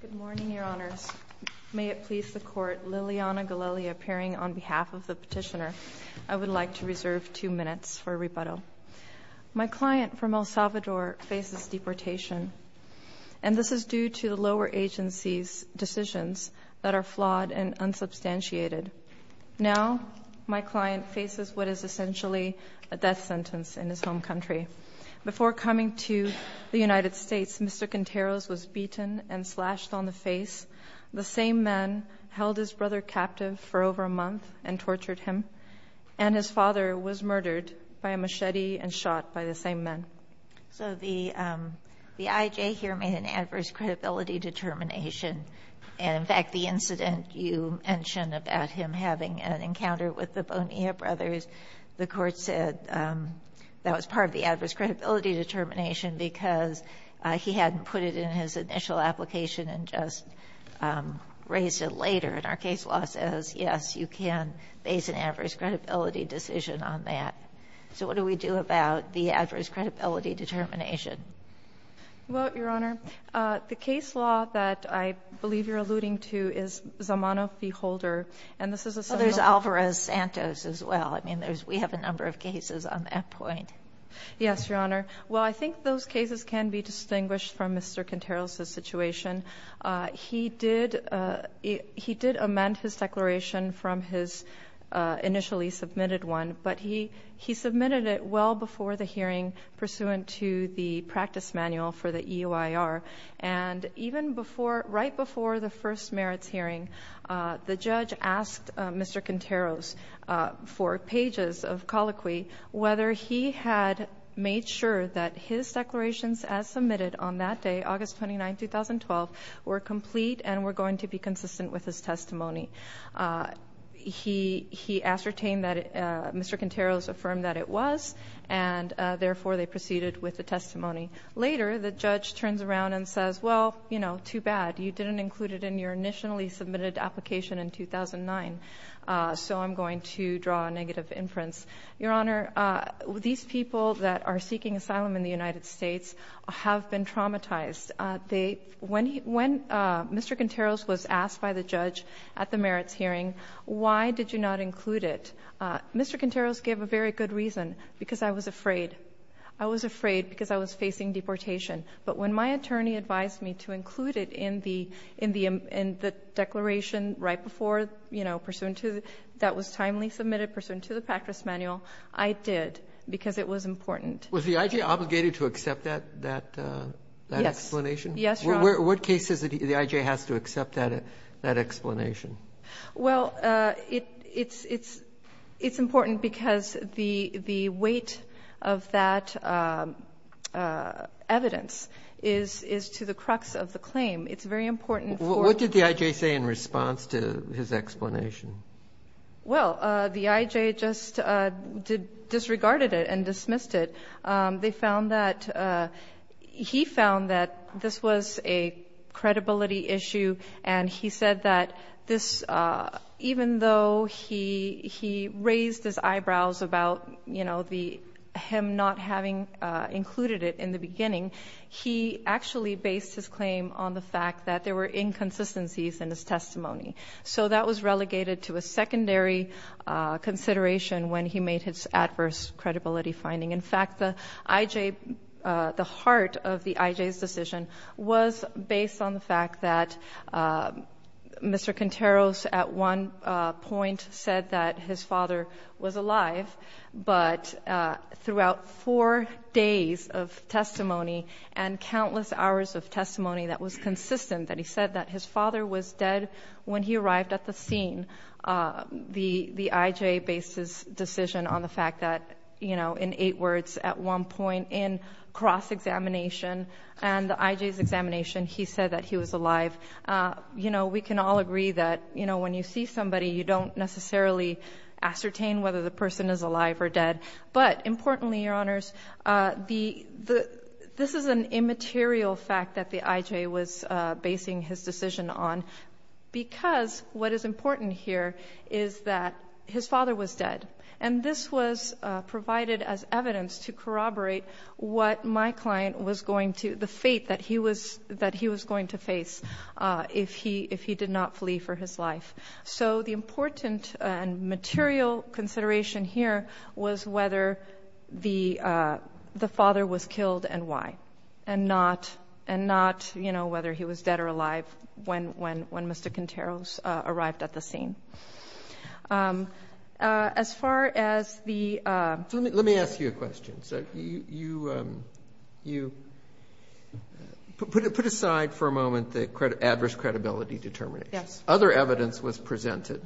Good morning, Your Honors. May it please the Court, Liliana Galelli appearing on behalf of the petitioner. I would like to reserve two minutes for rebuttal. My client from El Salvador faces deportation, and this is due to the lower agency's decisions that are flawed and unsubstantiated. Now, my client faces what is essentially a death sentence in his home country. Before coming to the United States, Mr. Quinteros was beaten and slashed on the face. The same man held his brother captive for over a month and tortured him. And his father was murdered by a machete and shot by the same man. So the IJ here made an adverse credibility determination. And, in fact, the incident you mentioned about him having an encounter with the Bonilla brothers, the Court said that was part of the adverse credibility determination because he hadn't put it in his initial application and just raised it later. And our case law says, yes, you can base an adverse credibility decision on that. So what do we do about the adverse credibility determination? Well, Your Honor, the case law that I believe you're alluding to is Zamano v. Holder. Well, there's Alvarez-Santos as well. I mean, we have a number of cases on that point. Yes, Your Honor. Well, I think those cases can be distinguished from Mr. Quinteros' situation. He did amend his declaration from his initially submitted one, but he submitted it well before the hearing pursuant to the practice manual for the EOIR. And even right before the first merits hearing, the judge asked Mr. Quinteros for pages of colloquy whether he had made sure that his declarations as submitted on that day, August 29, 2012, were complete and were going to be consistent with his testimony. He ascertained that Mr. Quinteros affirmed that it was, and, therefore, they proceeded with the testimony. Later, the judge turns around and says, well, you know, too bad. You didn't include it in your initially submitted application in 2009. So I'm going to draw a negative inference. Your Honor, these people that are seeking asylum in the United States have been traumatized. When Mr. Quinteros was asked by the judge at the merits hearing, why did you not include it? Mr. Quinteros gave a very good reason, because I was afraid. I was afraid because I was facing deportation. But when my attorney advised me to include it in the declaration right before, you know, pursuant to, that was timely submitted, pursuant to the practice manual, I did, because it was important. Was the IJ obligated to accept that explanation? Yes, Your Honor. What cases does the IJ have to accept that explanation? Well, it's important because the weight of that evidence is to the crux of the claim. It's very important for the court. What did the IJ say in response to his explanation? Well, the IJ just disregarded it and dismissed it. They found that, he found that this was a credibility issue, and he said that this, even though he raised his eyebrows about, you know, him not having included it in the beginning, he actually based his claim on the fact that there were inconsistencies in his testimony. So that was relegated to a secondary consideration when he made his adverse credibility finding. In fact, the IJ, the heart of the IJ's decision was based on the fact that Mr. Contreras, at one point, said that his father was alive, but throughout four days of testimony and countless hours of testimony that was consistent that he said that his father was dead when he arrived at the scene. The IJ based his decision on the fact that, you know, in eight words, at one point in cross-examination, and the IJ's examination, he said that he was alive. You know, we can all agree that, you know, when you see somebody, you don't necessarily ascertain whether the person is alive or dead. But importantly, Your Honors, this is an immaterial fact that the IJ was basing his decision on, because what is important here is that his father was dead, and this was provided as evidence to corroborate what my client was going to, the fate that he was going to face if he did not flee for his life. So the important and material consideration here was whether the father was killed and why, and not, you know, whether he was dead or alive when Mr. Contreras arrived at the scene. As far as the — Let me ask you a question. You put aside for a moment the adverse credibility determination. Yes. Other evidence was presented.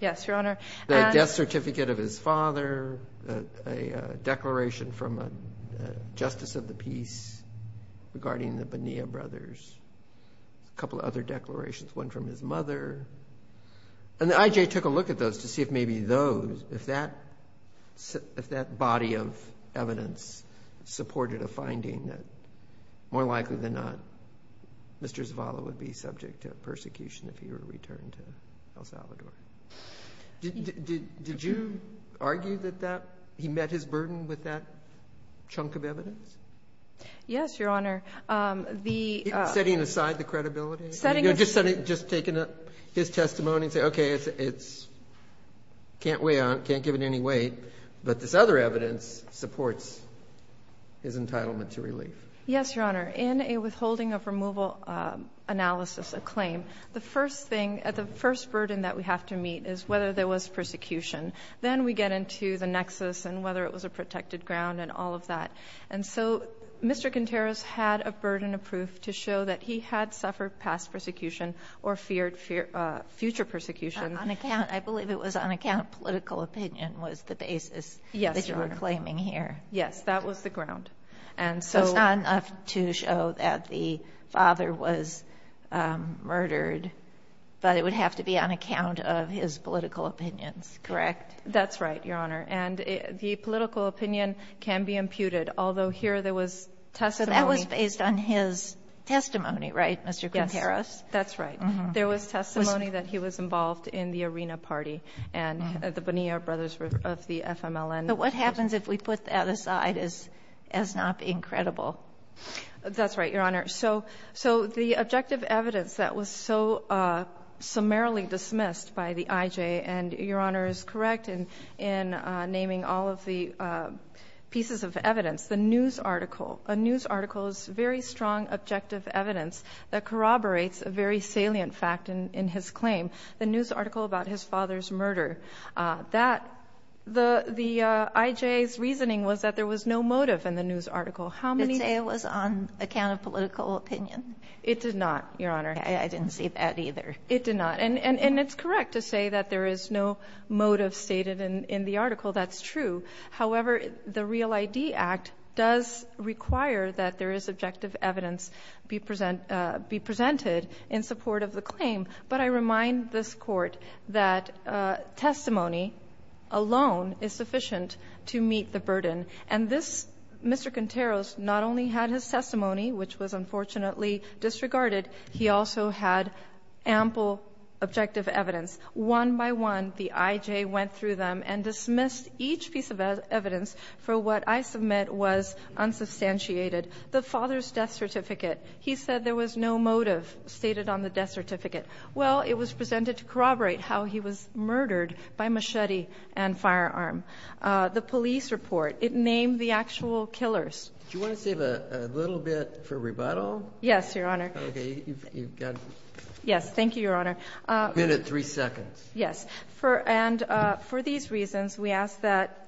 Yes, Your Honor. The death certificate of his father, a declaration from a justice of the peace regarding the Bonilla brothers, a couple of other declarations, one from his mother. And the IJ took a look at those to see if maybe those, if that body of evidence supported a finding that more likely than not Mr. Zavala would be subject to persecution if he were to return to El Salvador. Did you argue that that, he met his burden with that chunk of evidence? Yes, Your Honor. Setting aside the credibility? Setting aside. Just taking his testimony and saying, okay, it's, can't weigh on it, can't give it any weight, but this other evidence supports his entitlement to relief. Yes, Your Honor. In a withholding of removal analysis, a claim, the first thing, the first burden that we have to meet is whether there was persecution. Then we get into the nexus and whether it was a protected ground and all of that. And so Mr. Contreras had a burden of proof to show that he had suffered past persecution or feared future persecution. On account, I believe it was on account of political opinion was the basis that you were claiming here. Yes, Your Honor. Yes, that was the ground. So it's not enough to show that the father was murdered, but it would have to be on account of his political opinions. Correct. That's right, Your Honor. And the political opinion can be imputed, although here there was testimony. So that was based on his testimony, right, Mr. Contreras? Yes, that's right. There was testimony that he was involved in the Arena Party and the Bonilla Brothers of the FMLN. But what happens if we put that aside as not being credible? That's right, Your Honor. So the objective evidence that was so summarily dismissed by the IJ, and Your Honor is correct in naming all of the pieces of evidence, the news article, a news article is very strong objective evidence that corroborates a very salient fact in his claim, the news article about his father's murder. That, the IJ's reasoning was that there was no motive in the news article. How many? Did it say it was on account of political opinion? It did not, Your Honor. Okay. I didn't see that either. It did not. And it's correct to say that there is no motive stated in the article. That's true. However, the Real ID Act does require that there is objective evidence be presented in support of the claim. But I remind this Court that testimony alone is sufficient to meet the burden. And this, Mr. Contreras, not only had his testimony, which was unfortunately disregarded, he also had ample objective evidence. One by one, the IJ went through them and dismissed each piece of evidence for what I submit was unsubstantiated. The father's death certificate, he said there was no motive stated on the death certificate. Well, it was presented to corroborate how he was murdered by machete and firearm. The police report, it named the actual killers. Do you want to save a little bit for rebuttal? Yes, Your Honor. Okay. You've got it. Yes, thank you, Your Honor. A minute, three seconds. Yes. And for these reasons, we ask that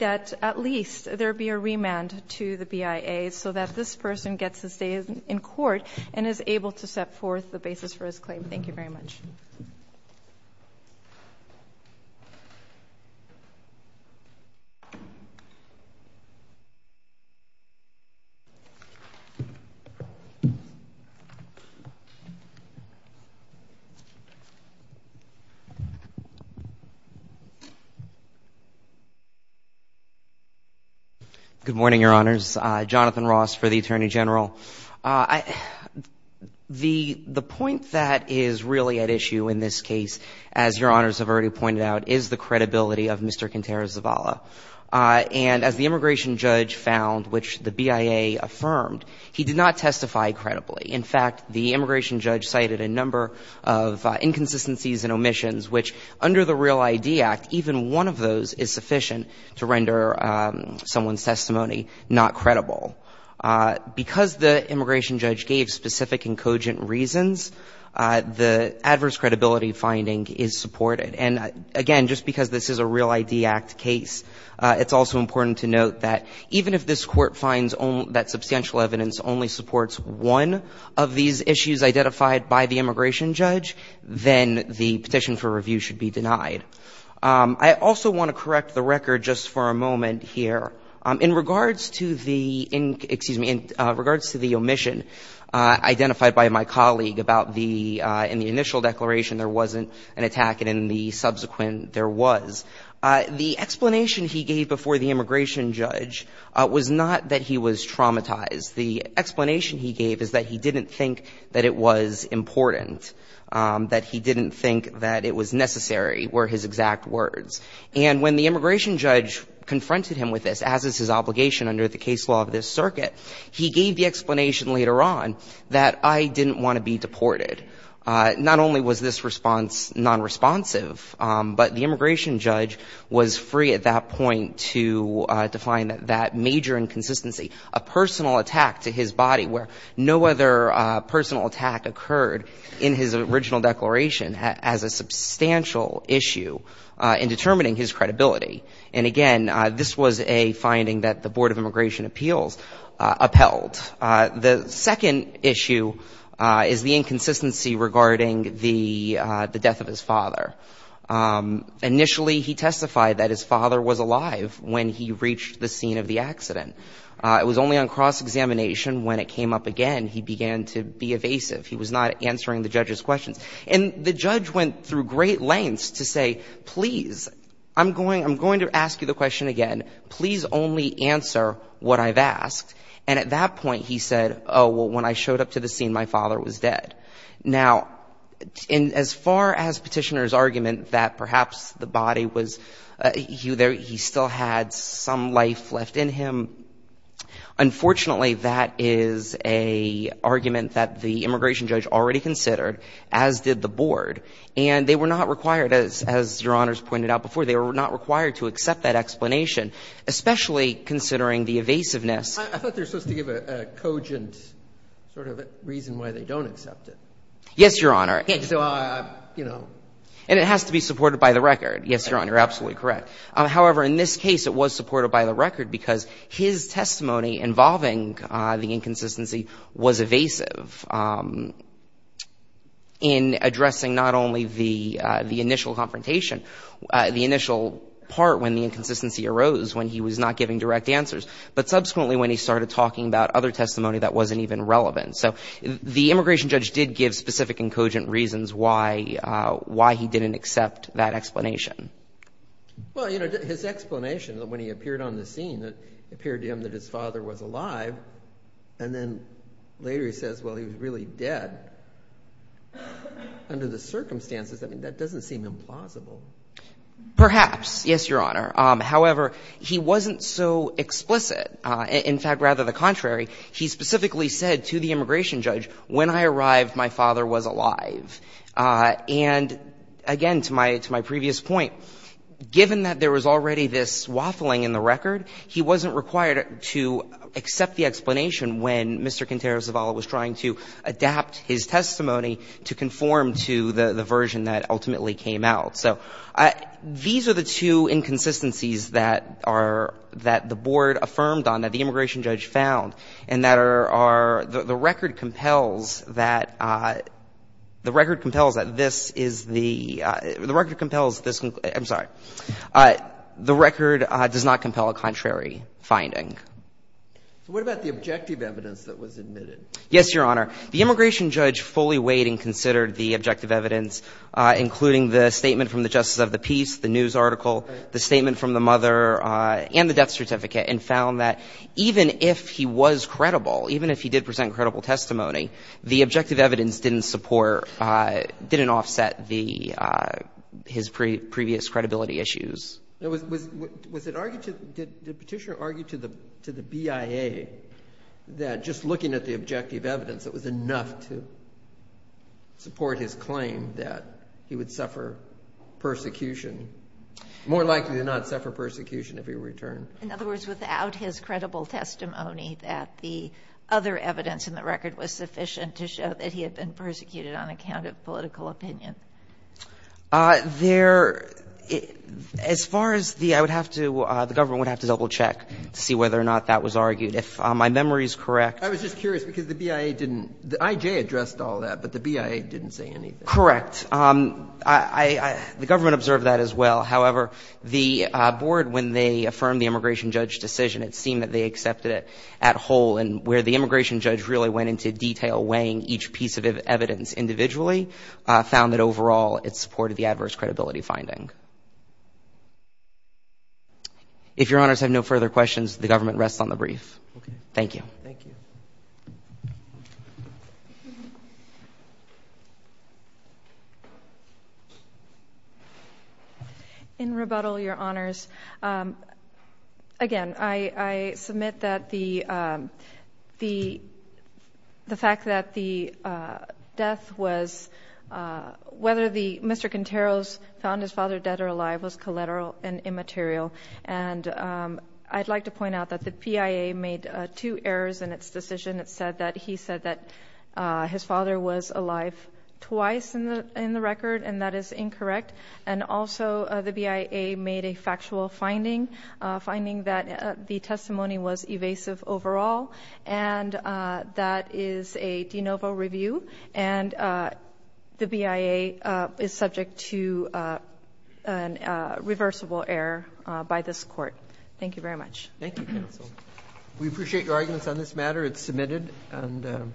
at least there be a remand to the BIA so that this person gets to stay in court and is able to set forth the basis for his claim. Thank you very much. Good morning, Your Honors. Jonathan Ross for the Attorney General. The point that is really at issue in this case, as Your Honors have already pointed out, is the credibility of Mr. Contreras Zavala. And as the immigration judge found, which the BIA affirmed, he did not testify credibly. In fact, the immigration judge cited a number of inconsistencies and omissions, which under the Real ID Act, even one of those is sufficient to render someone's testimony not credible. Because the immigration judge gave specific and cogent reasons, the adverse credibility finding is supported. And again, just because this is a Real ID Act case, it's also important to note that even if this Court finds that substantial evidence only supports one of these issues identified by the immigration judge, then the petition for review should be denied. I also want to correct the record just for a moment here. In regards to the omission identified by my colleague about the — in the initial declaration, there wasn't an attack, and in the subsequent, there was. The explanation he gave before the immigration judge was not that he was traumatized. The explanation he gave is that he didn't think that it was important, that he didn't think that it was necessary were his exact words. And when the immigration judge confronted him with this, as is his obligation under the case law of this circuit, he gave the explanation later on that I didn't want to be deported. Not only was this response nonresponsive, but the immigration judge was free at that point to define that major inconsistency, a personal attack to his body where no other personal attack occurred in his original declaration as a substantial issue in determining his credibility. And again, this was a finding that the Board of Immigration Appeals upheld. The second issue is the inconsistency regarding the death of his father. Initially, he testified that his father was alive when he reached the scene of the accident. It was only on cross-examination when it came up again he began to be evasive. He was not answering the judge's questions. And the judge went through great lengths to say, please, I'm going to ask you the question again. Please only answer what I've asked. And at that point, he said, oh, well, when I showed up to the scene, my father was dead. Now, as far as Petitioner's argument that perhaps the body was he still had some life left in him, unfortunately, that is an argument that the immigration judge already considered, as did the board. And they were not required, as Your Honors pointed out before, they were not required to accept that explanation, especially considering the evasiveness. I thought they were supposed to give a cogent sort of reason why they don't accept it. Yes, Your Honor. So, you know. And it has to be supported by the record. Yes, Your Honor, you're absolutely correct. However, in this case, it was supported by the record because his testimony involving the inconsistency was evasive in addressing not only the initial confrontation, the initial part when the inconsistency arose, when he was not giving direct answers, but subsequently when he started talking about other testimony that wasn't even relevant. So the immigration judge did give specific and cogent reasons why he didn't accept that explanation. Well, you know, his explanation when he appeared on the scene, it appeared to him that his father was alive. And then later he says, well, he was really dead. Under the circumstances, I mean, that doesn't seem implausible. Perhaps. Yes, Your Honor. However, he wasn't so explicit. In fact, rather the contrary. He specifically said to the immigration judge, when I arrived, my father was alive. And, again, to my previous point, given that there was already this waffling in the record, he wasn't required to accept the explanation when Mr. Contreras-Zavala was trying to adapt his testimony to conform to the version that ultimately came out. So these are the two inconsistencies that are — that the board affirmed on, that the immigration judge found, and that are — the record compels that — the record compels that this is the — the record compels this — I'm sorry. The record does not compel a contrary finding. So what about the objective evidence that was admitted? Yes, Your Honor. The immigration judge fully weighed and considered the objective evidence, including the statement from the Justice of the Peace, the news article, the statement from the mother, and the death certificate, and found that even if he was credible, even if he did present credible testimony, the objective evidence didn't support — didn't offset the — his previous credibility issues. Was it argued to — did Petitioner argue to the BIA that just looking at the objective evidence, it was enough to support his claim that he would suffer persecution — more likely to not suffer persecution if he returned? In other words, without his credible testimony, that the other evidence in the record was sufficient to show that he had been persecuted on account of political opinion. There — as far as the — I would have to — the government would have to double check to see whether or not that was argued. If my memory is correct — I was just curious because the BIA didn't — the IJ addressed all that, but the BIA didn't say anything. Correct. I — the government observed that as well. However, the board, when they affirmed the immigration judge's decision, it seemed that they accepted it at whole. And where the immigration judge really went into detail weighing each piece of evidence individually, found that overall it supported the adverse credibility finding. If Your Honors have no further questions, the government rests on the brief. Okay. Thank you. Thank you. In rebuttal, Your Honors, again, I submit that the fact that the death was — whether the — Mr. Quintero's found his father dead or alive was collateral and immaterial. And I'd like to point out that the BIA made two errors in its decision. It said that he said that his father was alive twice in the record, and that is incorrect. And also, the BIA made a factual finding, finding that the testimony was evasive overall. And that is a de novo review. And the BIA is subject to a reversible error by this court. Thank you very much. Thank you, counsel. We appreciate your arguments on this matter. It's submitted. And —